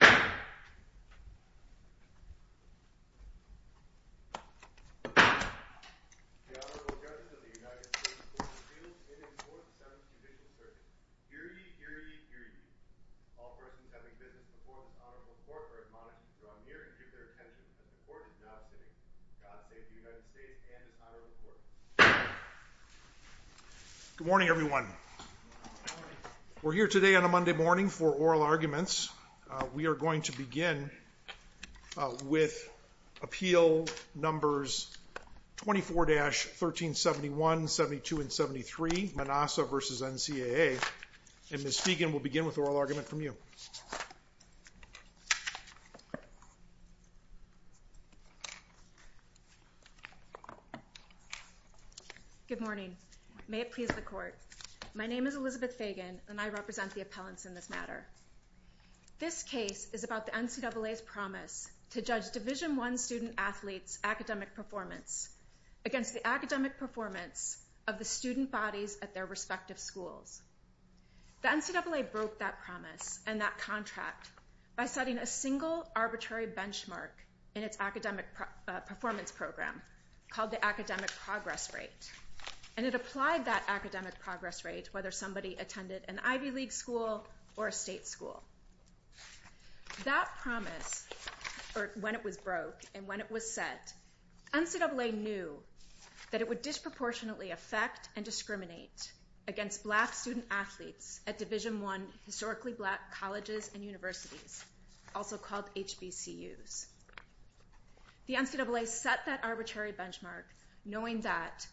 The Honorable Judge of the United States Court of Appeals, in his fourth sentence, convicts the circuit. Hear ye, hear ye, hear ye. All persons having business before the Honorable Court are admonished to draw near and secure attention to the court is now sitting. God save the United States and his Honorable Court. Good morning everyone. We're here today on a Monday morning for oral arguments. We are going to begin with appeal numbers 24-1371, 72, and 73, Manassa v. NCAA. And Ms. Fagan will begin with oral argument from you. Good morning. May it please the court. My name is Elizabeth Fagan and I represent the This case is about the NCAA's promise to judge Division I student-athletes' academic performance against the academic performance of the student bodies at their respective schools. The NCAA broke that promise and that contract by setting a single arbitrary benchmark in its academic performance program called the academic progress rate. And it applied that academic progress rate whether somebody attended an Ivy League school or a state school. That promise, or when it was broke and when it was set, NCAA knew that it would disproportionately affect and discriminate against black student-athletes at Division I historically black colleges and universities, also called HBCUs. The NCAA set that arbitrary benchmark knowing that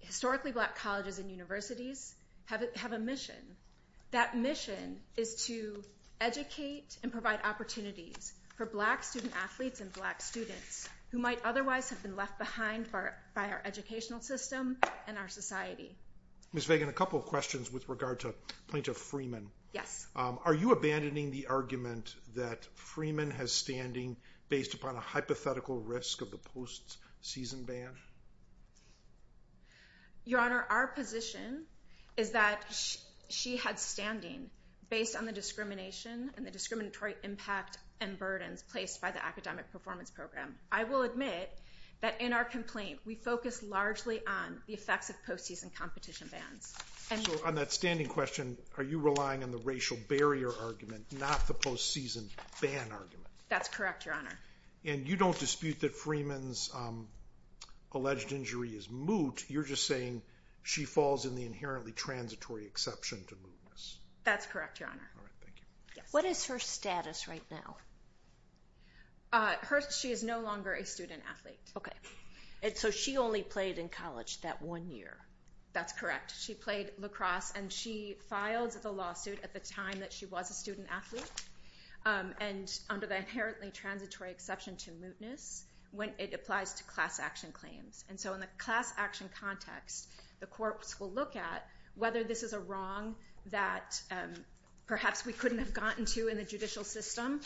historically black colleges and universities have a mission. That mission is to educate and provide opportunities for black student-athletes and black students who might otherwise have been left behind by our educational system and our society. Ms. Fagan, a couple of questions with regard to plaintiff Freeman. Yes. Are you abandoning the argument that Freeman has standing based upon a hypothetical risk of the post-season ban? Your Honor, our position is that she had standing based on the discrimination and the discriminatory impact and burdens placed by the academic performance program. I will admit that in our complaint, we focused largely on the effects of post-season competition bans. So on that standing question, are you relying on the racial barrier argument, not the post-season ban argument? That's correct, Your Honor. And you don't dispute that Freeman's alleged injury is moot. You're just saying she falls in the inherently transitory exception to mootness. That's correct, Your Honor. All right. Thank you. Yes. What is her status right now? She is no longer a student-athlete. Okay. And so she only played in college that one year. That's correct. She played lacrosse and she filed the lawsuit at the time that she was a student-athlete and under the inherently transitory exception to mootness when it applies to class action claims. And so in the class action context, the courts will look at whether this is a wrong that perhaps we couldn't have gotten to in the judicial system.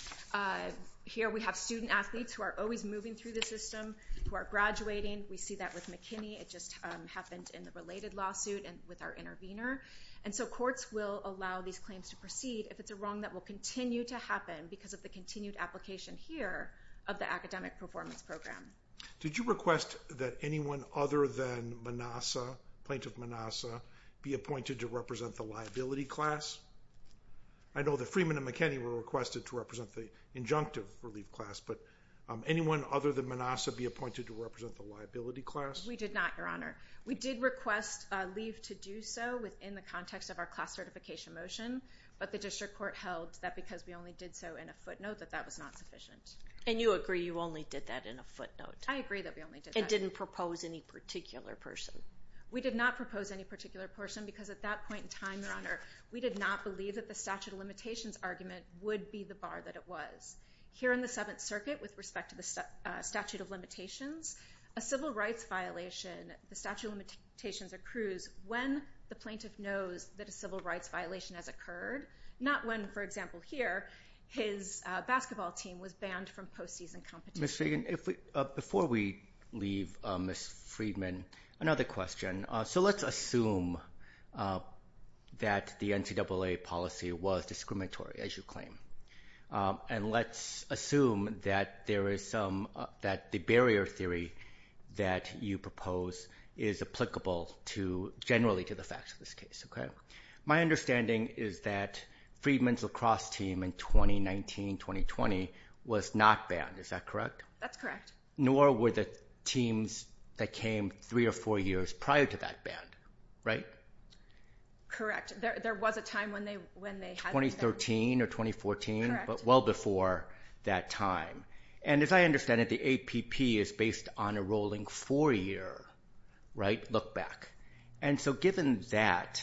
Here we have student-athletes who are always moving through the system, who are graduating. We see that with McKinney. It just happened in the related lawsuit and with our intervener. And so courts will allow these claims to proceed if it's a wrong that will continue to happen because of the continued application here of the academic performance program. Did you request that anyone other than Manassa, plaintiff Manassa, be appointed to represent the liability class? I know that Freeman and McKinney were requested to represent the injunctive relief class, but anyone other than Manassa be appointed to represent the liability class? We did not, Your Honor. We did request leave to do so within the context of our class certification motion, but the district court held that because we only did so in a footnote that that was not sufficient. And you agree you only did that in a footnote? I agree that we only did that. And didn't propose any particular person? We did not propose any particular person because at that point in time, Your Honor, we did not believe that the statute of limitations argument would be the bar that it was. Here in the Seventh Circuit with respect to the statute of limitations, a civil rights violation, the statute of limitations accrues when the plaintiff knows that a civil rights violation has occurred, not when, for example, here, his basketball team was banned from postseason competition. Ms. Fagan, before we leave Ms. Freedman, another question. So let's assume that the NCAA policy was discriminatory, as you claim, and let's assume that the barrier theory that you propose is applicable generally to the facts of this case. My understanding is that Freedman's lacrosse team in 2019-2020 was not banned. Is that correct? That's correct. Nor were the teams that came three or four years prior to that banned, right? Correct. There was a time when they had been banned. 2013 or 2014? Correct. But well before that time. And as I understand it, the APP is based on a rolling four-year look back. And so given that,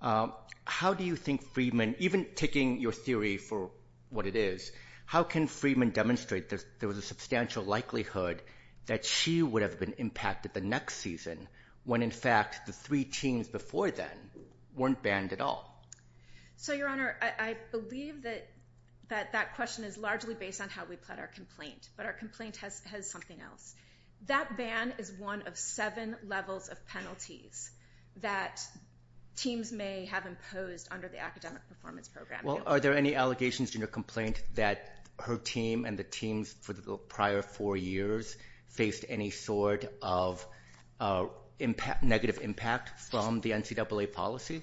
how do you think Freedman, even taking your theory for what it is, how can Freedman demonstrate that there was a substantial likelihood that she would have been impacted the next season when, in fact, the three teams before then weren't banned at all? So, Your Honor, I believe that that question is largely based on how we plot our complaint. But our complaint has something else. That ban is one of seven levels of penalties that teams may have imposed under the academic performance program. Well, are there any allegations in your complaint that her team and the teams for the prior four years faced any sort of negative impact from the NCAA policy?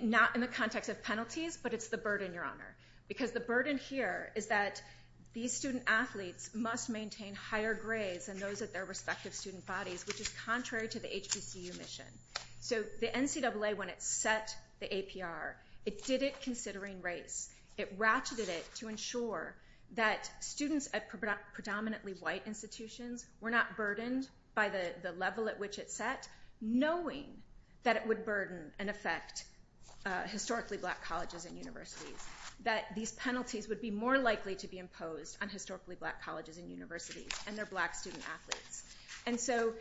Not in the context of penalties, but it's the burden, Your Honor, because the burden here is that these student athletes must maintain higher grades than those at their respective student bodies, which is contrary to the HBCU mission. So the NCAA, when it set the APR, it did it considering race. It ratcheted it to ensure that students at predominantly white institutions were not burdened by the level at which it set, knowing that it would burden and affect historically black colleges and universities, that these penalties would be more likely to be imposed on historically black colleges and universities and their black student athletes. And so,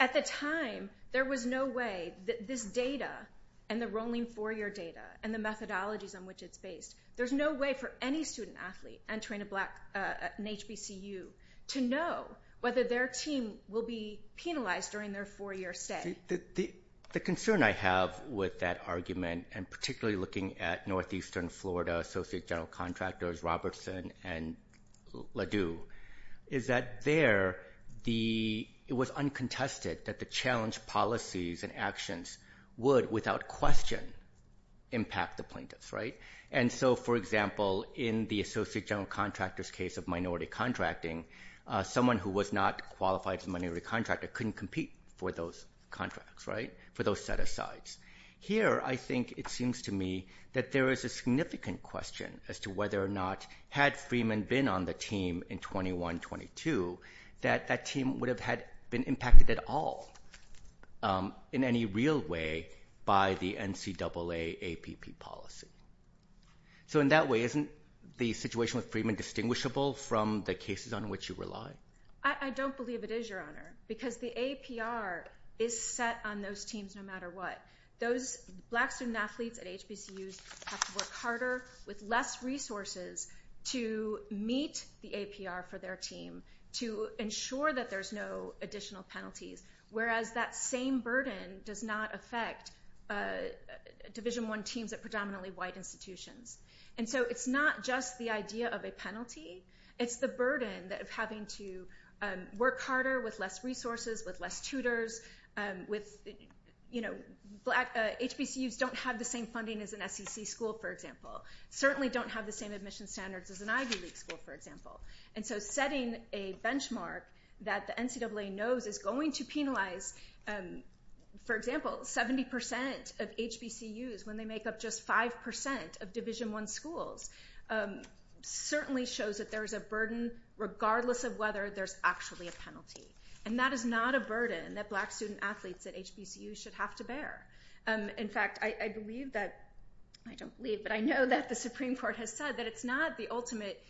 at the time, there was no way that this data and the rolling four-year data and the methodologies on which it's based, there's no way for any student athlete entering an HBCU to know whether their team will be penalized during their four-year stay. The concern I have with that argument, and particularly looking at northeastern Florida associate general contractors, Robertson and Ledoux, is that there it was uncontested that the challenge policies and actions would, without question, impact the plaintiffs. And so, for example, in the associate general contractor's case of minority contracting, someone who was not qualified as a minority contractor couldn't compete for those contracts, for those set-asides. Here, I think it seems to me that there is a significant question as to whether or not, had Freeman been on the team in 21-22, that that team would have been impacted at all in any real way by the NCAA APP policy. So in that way, isn't the situation with Freeman distinguishable from the cases on which you rely? I don't believe it is, Your Honor, because the APR is set on those teams no matter what. Those black student athletes at HBCUs have to work harder with less resources to meet the APR for their team to ensure that there's no additional penalties, whereas that same burden does not affect Division I teams at predominantly white institutions. And so it's not just the idea of a penalty. It's the burden of having to work harder with less resources, with less tutors. HBCUs don't have the same funding as an SEC school, for example. Certainly don't have the same admission standards as an Ivy League school, for example. And so setting a benchmark that the NCAA knows is going to penalize, for example, 70% of HBCUs when they make up just 5% of Division I schools certainly shows that there is a burden regardless of whether there's actually a penalty. And that is not a burden that black student athletes at HBCUs should have to bear. In fact, I don't believe, but I know that the Supreme Court has said that it's not the ultimate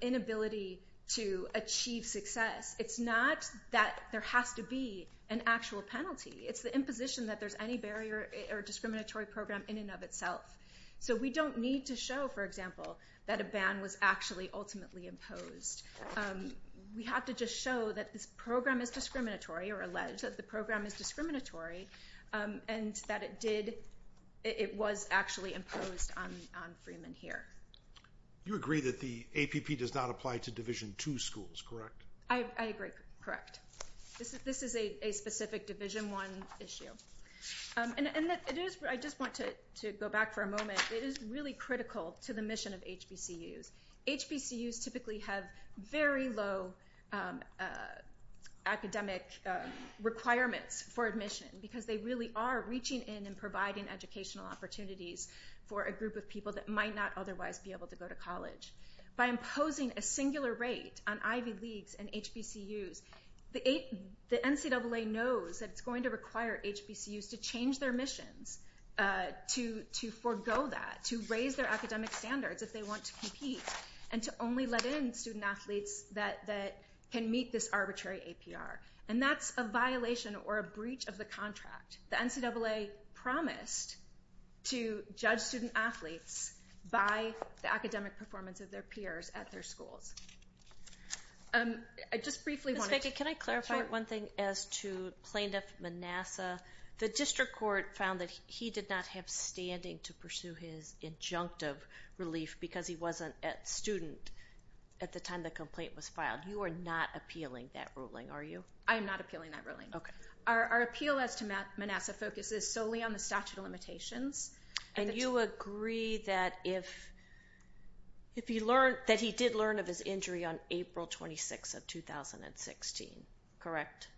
inability to achieve success. It's not that there has to be an actual penalty. It's the imposition that there's any barrier or discriminatory program in and of itself. So we don't need to show, for example, that a ban was actually ultimately imposed. We have to just show that this program is discriminatory or allege that the program is discriminatory and that it was actually imposed on freemen here. You agree that the APP does not apply to Division II schools, correct? I agree. Correct. This is a specific Division I issue. And I just want to go back for a moment. It is really critical to the mission of HBCUs. HBCUs typically have very low academic requirements for admission because they really are reaching in and providing educational opportunities for a group of people that might not otherwise be able to go to college. By imposing a singular rate on Ivy Leagues and HBCUs, the NCAA knows that it's going to require HBCUs to change their missions, to forego that, to raise their academic standards if they want to compete, and to only let in student athletes that can meet this arbitrary APR. And that's a violation or a breach of the contract. The NCAA promised to judge student athletes by the academic performance of their peers at their schools. Ms. Ficke, can I clarify one thing as to Plaintiff Manassa? The District Court found that he did not have standing to pursue his injunctive relief because he wasn't a student at the time the complaint was filed. You are not appealing that ruling, are you? I am not appealing that ruling. Our appeal as to Manassa focuses solely on the statute of limitations. And you agree that he did learn of his injury on April 26th of 2016, correct?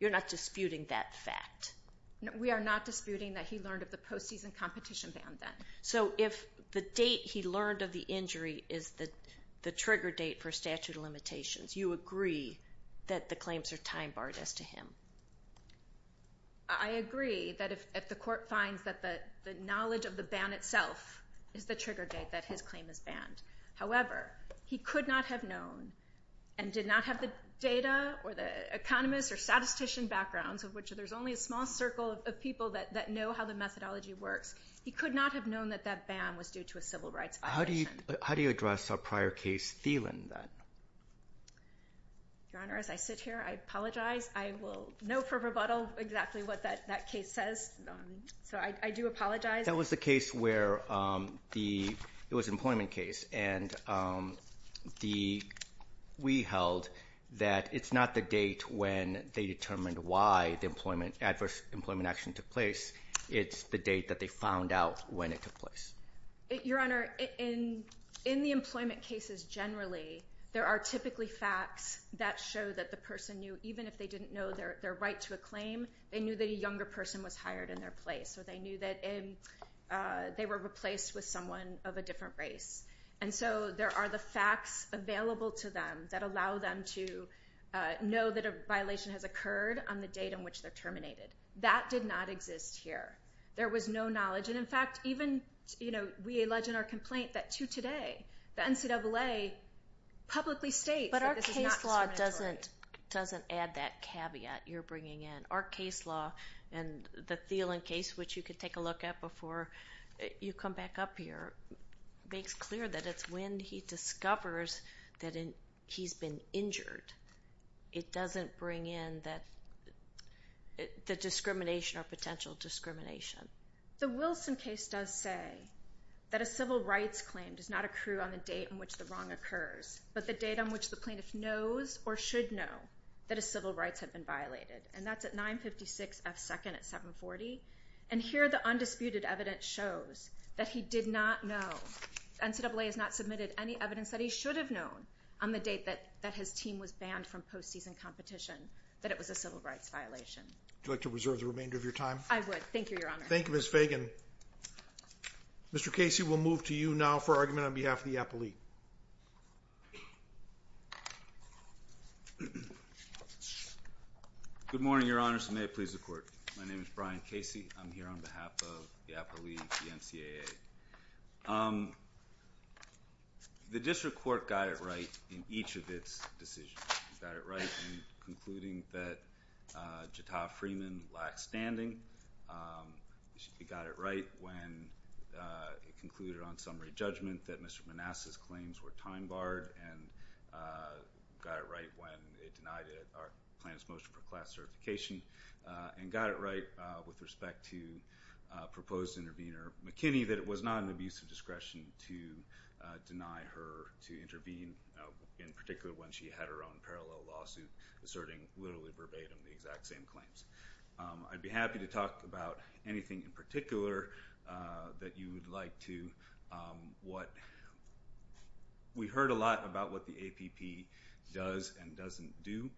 You're not disputing that fact? We are not disputing that he learned of the postseason competition ban then. So if the date he learned of the injury is the trigger date for statute of limitations, you agree that the claims are time-barred as to him? I agree that if the court finds that the knowledge of the ban itself is the trigger date that his claim is banned. However, he could not have known and did not have the data or the economist or statistician backgrounds, of which there's only a small circle of people that know how the methodology works. He could not have known that that ban was due to a civil rights violation. How do you address our prior case, Thielen, then? Your Honor, as I sit here, I apologize. I will know for rebuttal exactly what that case says, so I do apologize. That was the case where the—it was an employment case, and we held that it's not the date when they determined why the adverse employment action took place. It's the date that they found out when it took place. Your Honor, in the employment cases generally, there are typically facts that show that the person knew, even if they didn't know their right to a claim, they knew that a younger person was hired in their place, or they knew that they were replaced with someone of a different race. And so there are the facts available to them that allow them to know that a violation has occurred on the date on which they're terminated. That did not exist here. There was no knowledge. And, in fact, even we allege in our complaint that to today, the NCAA publicly states that this is not discriminatory. But our case law doesn't add that caveat you're bringing in. Our case law and the Thielen case, which you can take a look at before you come back up here, makes clear that it's when he discovers that he's been injured. It doesn't bring in the discrimination or potential discrimination. The Wilson case does say that a civil rights claim does not accrue on the date on which the wrong occurs, but the date on which the plaintiff knows or should know that his civil rights have been violated. And that's at 956 F. 2nd at 740. And here the undisputed evidence shows that he did not know. NCAA has not submitted any evidence that he should have known on the date that his team was banned from postseason competition that it was a civil rights violation. Would you like to reserve the remainder of your time? I would. Thank you, Your Honor. Thank you, Ms. Fagan. Mr. Casey, we'll move to you now for argument on behalf of the APA League. Good morning, Your Honor. May it please the Court. My name is Brian Casey. I'm here on behalf of the APA League, the NCAA. The district court got it right in each of its decisions. It got it right in concluding that Jatah Freeman lacked standing. It got it right when it concluded on summary judgment that Mr. Manasseh's claims were time barred and got it right when it denied our plaintiff's motion for class certification and got it right with respect to proposed intervener McKinney that it was not an abuse of discretion to deny her to intervene, in particular when she had her own parallel lawsuit, asserting literally verbatim the exact same claims. I'd be happy to talk about anything in particular that you would like to. We heard a lot about what the APP does and doesn't do.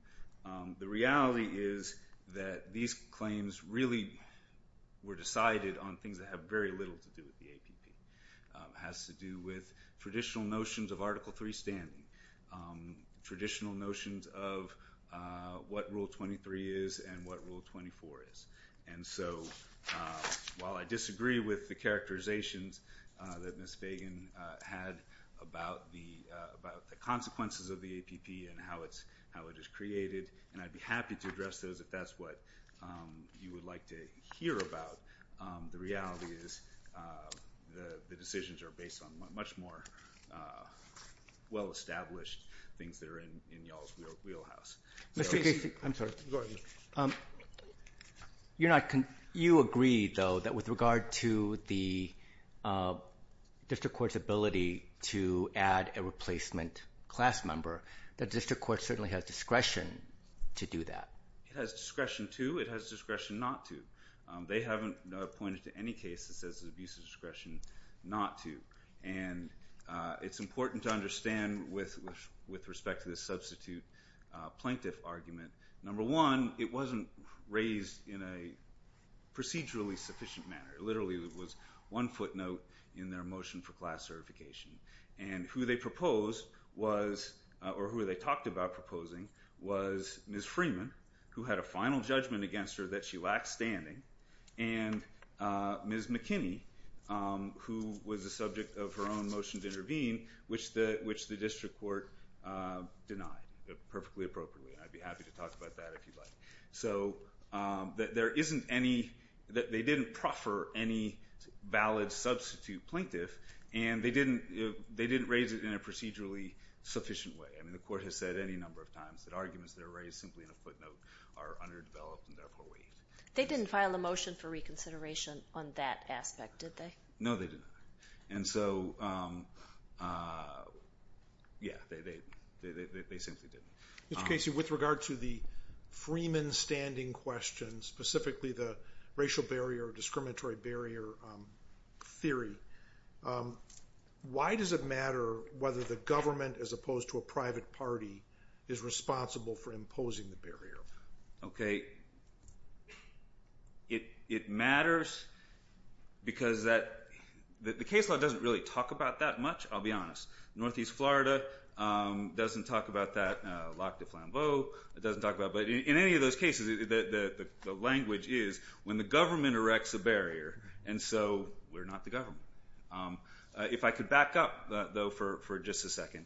The reality is that these claims really were decided on things that have very little to do with the APP. It has to do with traditional notions of Article III standing, traditional notions of what Rule 23 is and what Rule 24 is. And so while I disagree with the characterizations that Ms. Fagan had about the consequences of the APP and how it is created, and I'd be happy to address those if that's what you would like to hear about, the reality is the decisions are based on much more well-established things that are in y'all's wheelhouse. Mr. Casey, I'm sorry. Go ahead. You agreed, though, that with regard to the district court's ability to add a replacement class member, the district court certainly has discretion to do that. It has discretion to. It has discretion not to. They haven't pointed to any case that says there's abuse of discretion not to. And it's important to understand, with respect to this substitute plaintiff argument, number one, it wasn't raised in a procedurally sufficient manner. It literally was one footnote in their motion for class certification. And who they proposed was, or who they talked about proposing, was Ms. Freeman, who had a final judgment against her that she lacked standing, and Ms. McKinney, who was the subject of her own motion to intervene, which the district court denied perfectly appropriately, and I'd be happy to talk about that if you'd like. So there isn't any, they didn't proffer any valid substitute plaintiff, and they didn't raise it in a procedurally sufficient way. I mean, the court has said any number of times that arguments that are raised simply in a footnote are underdeveloped and therefore weak. They didn't file a motion for reconsideration on that aspect, did they? No, they did not. And so, yeah, they simply didn't. Mr. Casey, with regard to the Freeman standing question, specifically the racial barrier or discriminatory barrier theory, why does it matter whether the government, as opposed to a private party, is responsible for imposing the barrier? Okay, it matters because that, the case law doesn't really talk about that much, I'll be honest. Northeast Florida doesn't talk about that. Lac du Flambeau doesn't talk about it. But in any of those cases, the language is, when the government erects a barrier, and so we're not the government. If I could back up, though, for just a second.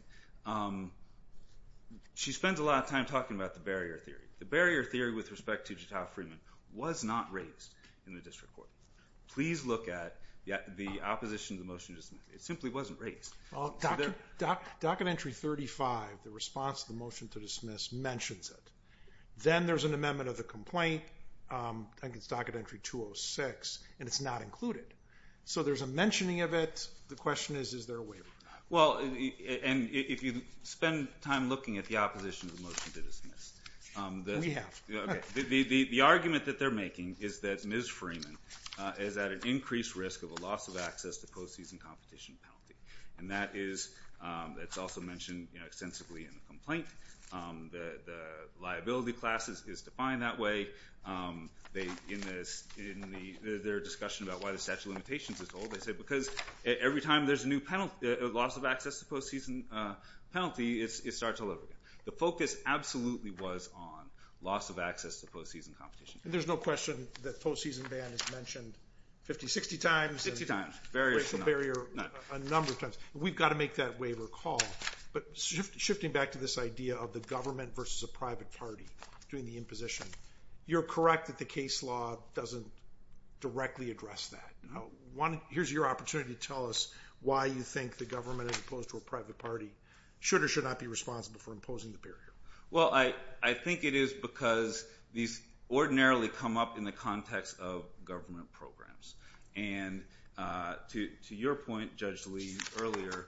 She spends a lot of time talking about the barrier theory. The barrier theory with respect to Jatow Freeman was not raised in the district court. Please look at the opposition to the motion to dismiss. It simply wasn't raised. Documentary 35, the response to the motion to dismiss, mentions it. Then there's an amendment of the complaint. I think it's Documentary 206, and it's not included. So there's a mentioning of it. The question is, is there a waiver? Well, and if you spend time looking at the opposition to the motion to dismiss. We have. The argument that they're making is that Ms. Freeman is at an increased risk of a loss of access to post-season competition penalty. And that is, it's also mentioned extensively in the complaint, that the liability class is defined that way. In their discussion about why the statute of limitations is old, they say because every time there's a loss of access to post-season penalty, it starts all over again. The focus absolutely was on loss of access to post-season competition. And there's no question that post-season ban is mentioned 50, 60 times. 60 times. A number of times. We've got to make that waiver call. But shifting back to this idea of the government versus a private party doing the imposition, you're correct that the case law doesn't directly address that. Here's your opportunity to tell us why you think the government, as opposed to a private party, should or should not be responsible for imposing the barrier. Well, I think it is because these ordinarily come up in the context of government programs. And to your point, Judge Lee, earlier,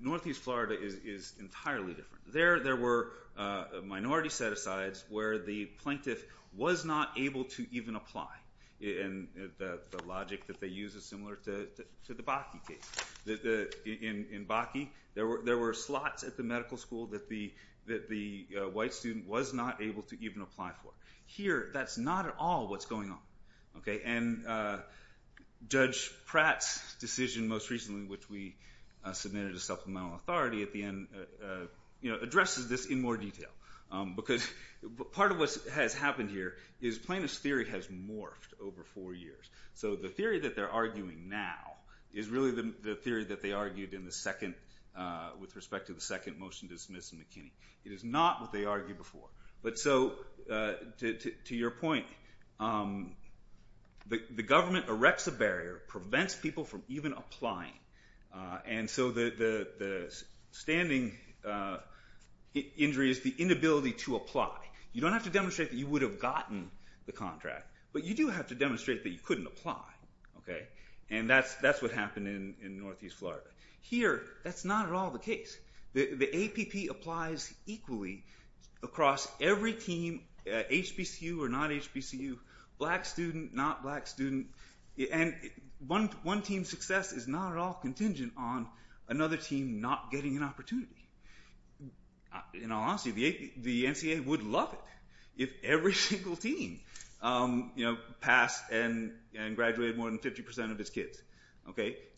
Northeast Florida is entirely different. There were minority set-asides where the plaintiff was not able to even apply. And the logic that they use is similar to the Bakke case. In Bakke, there were slots at the medical school that the white student was not able to even apply for. Here, that's not at all what's going on. And Judge Pratt's decision most recently, which we submitted to supplemental authority at the end, addresses this in more detail. Because part of what has happened here is plaintiff's theory has morphed over four years. So the theory that they're arguing now is really the theory that they argued with respect to the second motion to dismiss McKinney. It is not what they argued before. But so, to your point, the government erects a barrier, prevents people from even applying. And so the standing injury is the inability to apply. You don't have to demonstrate that you would have gotten the contract, but you do have to demonstrate that you couldn't apply. And that's what happened in Northeast Florida. Here, that's not at all the case. The APP applies equally across every team, HBCU or not HBCU, black student, not black student. And one team's success is not at all contingent on another team not getting an opportunity. In all honesty, the NCAA would love it if every single team passed and graduated more than 50% of its kids.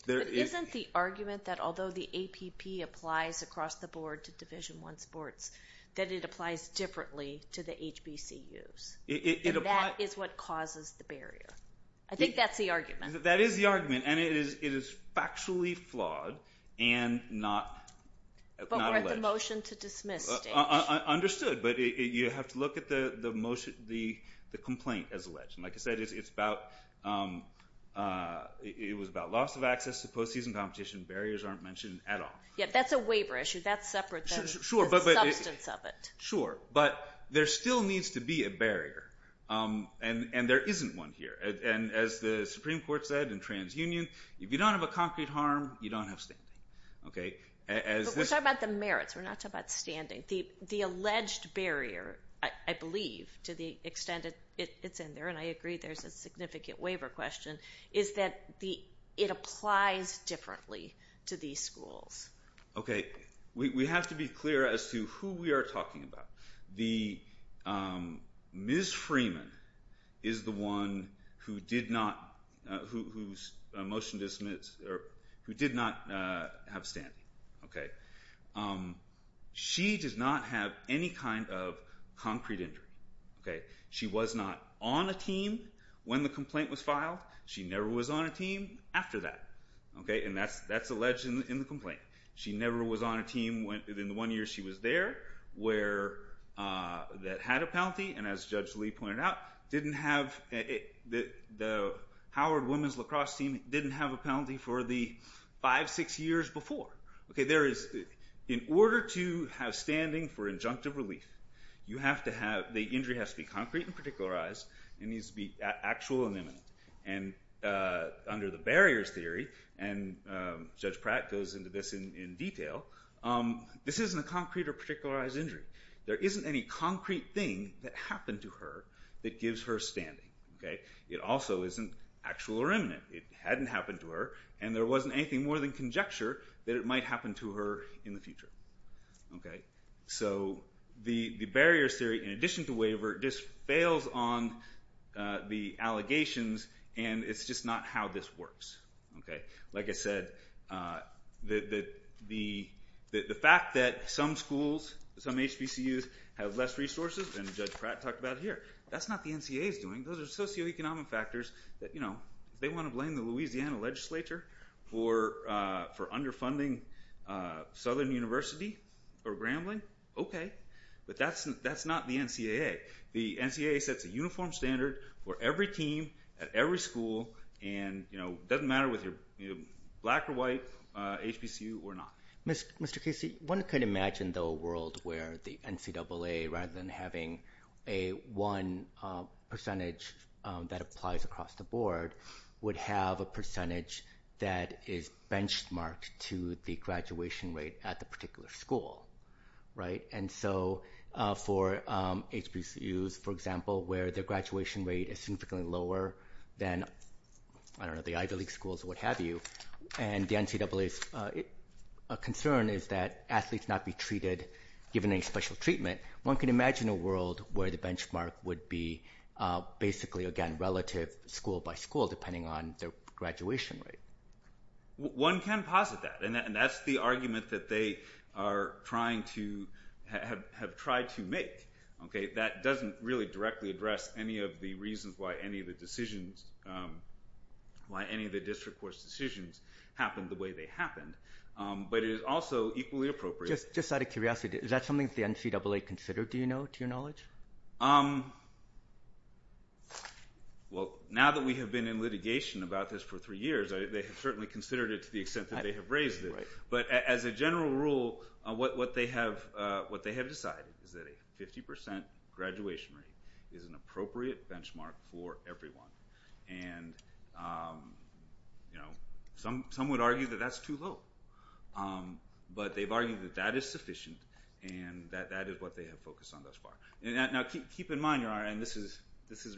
Isn't the argument that although the APP applies across the board to Division I sports, that it applies differently to the HBCUs? And that is what causes the barrier. I think that's the argument. That is the argument, and it is factually flawed and not alleged. But we're at the motion to dismiss stage. Understood, but you have to look at the complaint as alleged. Like I said, it was about loss of access to postseason competition. Barriers aren't mentioned at all. Yeah, that's a waiver issue. That's separate from the substance of it. Sure, but there still needs to be a barrier, and there isn't one here. And as the Supreme Court said in TransUnion, if you don't have a concrete harm, you don't have standing. But we're talking about the merits. We're not talking about standing. The alleged barrier, I believe, to the extent it's in there, and I agree there's a significant waiver question, is that it applies differently to these schools. Okay, we have to be clear as to who we are talking about. Ms. Freeman is the one who did not have standing. She does not have any kind of concrete injury. She was not on a team when the complaint was filed. She never was on a team after that, and that's alleged in the complaint. She never was on a team in the one year she was there that had a penalty, and as Judge Lee pointed out, the Howard women's lacrosse team didn't have a penalty for the five, six years before. In order to have standing for injunctive relief, the injury has to be concrete and particularized. It needs to be actual and imminent, and under the barriers theory, and Judge Pratt goes into this in detail, this isn't a concrete or particularized injury. There isn't any concrete thing that happened to her that gives her standing. It also isn't actual or imminent. It hadn't happened to her, and there wasn't anything more than conjecture that it might happen to her in the future. So the barriers theory, in addition to waiver, just fails on the allegations, and it's just not how this works. Like I said, the fact that some schools, some HBCUs, have less resources than Judge Pratt talked about here, that's not the NCA's doing. Those are socioeconomic factors that, you know, if they want to blame the Louisiana legislature for underfunding Southern University or Grambling, okay, but that's not the NCAA. The NCAA sets a uniform standard for every team at every school, and it doesn't matter whether you're black or white, HBCU or not. Mr. Casey, one could imagine, though, a world where the NCAA, rather than having a one percentage that applies across the board, would have a percentage that is benchmarked to the graduation rate at the particular school, right? And so for HBCUs, for example, where their graduation rate is significantly lower than, I don't know, the Ivy League schools or what have you, and the NCAA's concern is that athletes not be treated, given any special treatment, one could imagine a world where the benchmark would be basically, again, relative school by school depending on their graduation rate. One can posit that, and that's the argument that they are trying to have tried to make. That doesn't really directly address any of the reasons why any of the decisions, why any of the district course decisions happened the way they happened, but it is also equally appropriate. Just out of curiosity, is that something that the NCAA considered, do you know, to your knowledge? Well, now that we have been in litigation about this for three years, they have certainly considered it to the extent that they have raised it. But as a general rule, what they have decided is that a 50 percent graduation rate is an appropriate benchmark for everyone. And some would argue that that's too low, but they've argued that that is sufficient and that that is what they have focused on thus far. Now keep in mind, and this is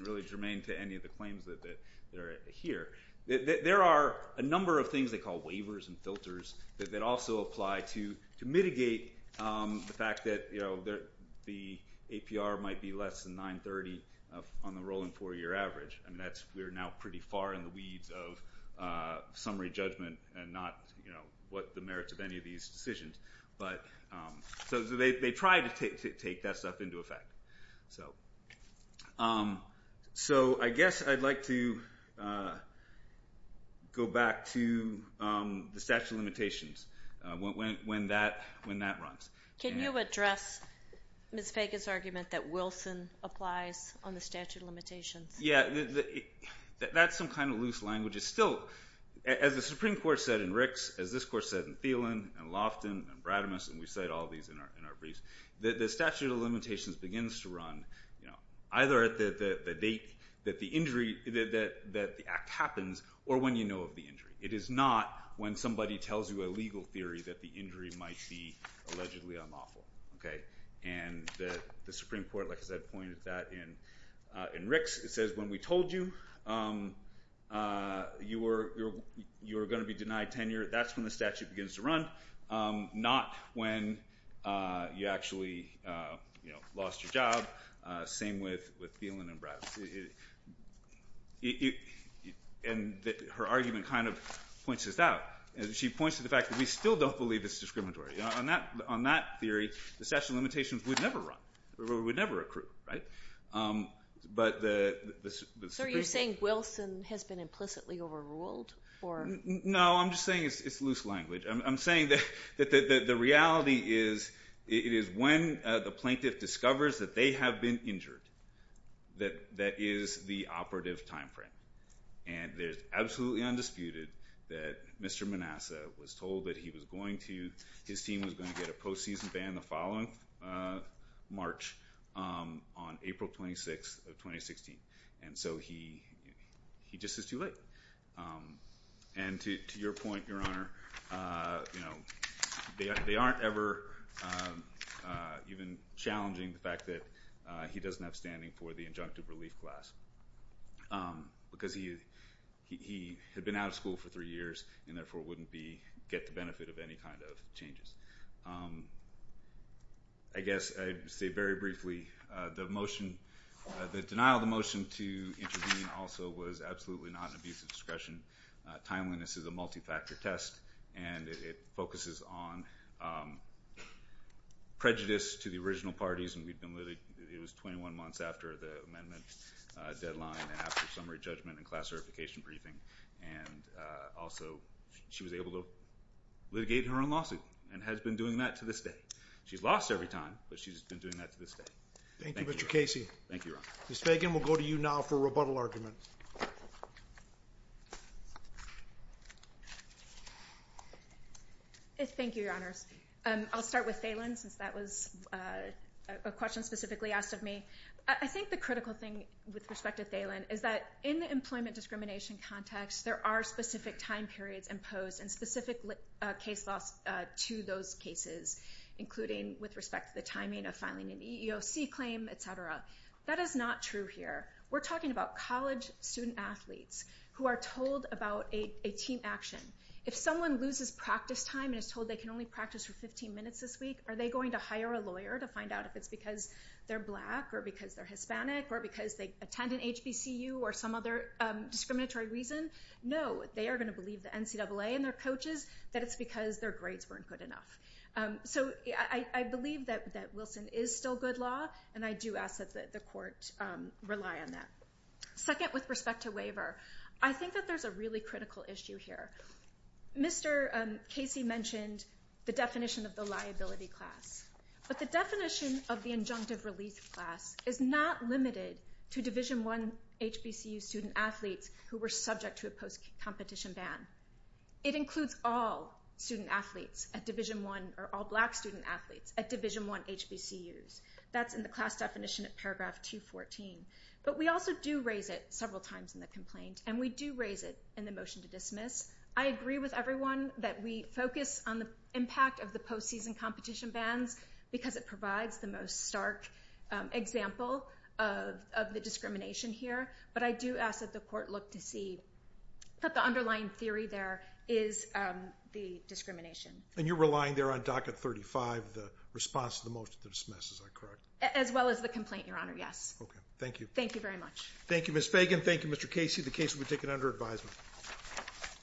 really germane to any of the claims that are here, that there are a number of things they call waivers and filters that also apply to mitigate the fact that, you know, the APR might be less than 930 on the rolling four-year average. And that's, we're now pretty far in the weeds of summary judgment and not, you know, what the merits of any of these decisions. So they try to take that stuff into effect. So I guess I'd like to go back to the statute of limitations when that runs. Can you address Ms. Vega's argument that Wilson applies on the statute of limitations? Yeah, that's some kind of loose language. It's still, as the Supreme Court said in Ricks, as this Court said in Thielen, and Loftin, and Brademas, and we cite all these in our briefs, that the statute of limitations begins to run either at the date that the injury, that the act happens, or when you know of the injury. It is not when somebody tells you a legal theory that the injury might be allegedly unlawful. And the Supreme Court, like I said, pointed that in Ricks. It says when we told you you were going to be denied tenure, that's when the statute begins to run, not when you actually lost your job. Same with Thielen and Brademas. And her argument kind of points this out. She points to the fact that we still don't believe it's discriminatory. On that theory, the statute of limitations would never run. It would never accrue. So are you saying Wilson has been implicitly overruled? No, I'm just saying it's loose language. I'm saying that the reality is it is when the plaintiff discovers that they have been injured that is the operative time frame. And it is absolutely undisputed that Mr. Manassa was told that he was going to, his team was going to get a postseason ban the following March, on April 26th of 2016. And so he just is too late. And to your point, Your Honor, they aren't ever even challenging the fact that he doesn't have standing for the injunctive relief class. Because he had been out of school for three years and therefore wouldn't get the benefit of any kind of changes. I guess I'd say very briefly, the denial of the motion to intervene also was absolutely not an abuse of discretion. Timeliness is a multi-factor test and it focuses on prejudice to the original parties. And it was 21 months after the amendment deadline and after summary judgment and class certification briefing. And also she was able to litigate her own lawsuit and has been doing that to this day. She's lost every time, but she's been doing that to this day. Thank you, Mr. Casey. Thank you, Your Honor. Ms. Fagan, we'll go to you now for a rebuttal argument. Thank you, Your Honors. I'll start with Thalen since that was a question specifically asked of me. I think the critical thing with respect to Thalen is that in the employment discrimination context, there are specific time periods imposed and specific case laws to those cases, including with respect to the timing of filing an EEOC claim, et cetera. That is not true here. We're talking about college student athletes who are told about a team action. If someone loses practice time and is told they can only practice for 15 minutes this week, are they going to hire a lawyer to find out if it's because they're black or because they're Hispanic or because they attend an HBCU or some other discriminatory reason? No. They are going to believe the NCAA and their coaches that it's because their grades weren't good enough. So I believe that Wilson is still good law, and I do ask that the court rely on that. Second, with respect to waiver, I think that there's a really critical issue here. Mr. Casey mentioned the definition of the liability class, but the definition of the injunctive release class is not limited to Division I HBCU student athletes who were subject to a post-competition ban. It includes all student athletes at Division I or all black student athletes at Division I HBCUs. That's in the class definition at paragraph 214. But we also do raise it several times in the complaint, and we do raise it in the motion to dismiss. I agree with everyone that we focus on the impact of the post-season competition bans because it provides the most stark example of the discrimination here, but I do ask that the court look to see that the underlying theory there is the discrimination. And you're relying there on docket 35, the response to the motion to dismiss, is that correct? As well as the complaint, Your Honor, yes. Okay. Thank you. Thank you very much. Thank you, Ms. Fagan. Thank you, Mr. Casey. The case will be taken under advisement.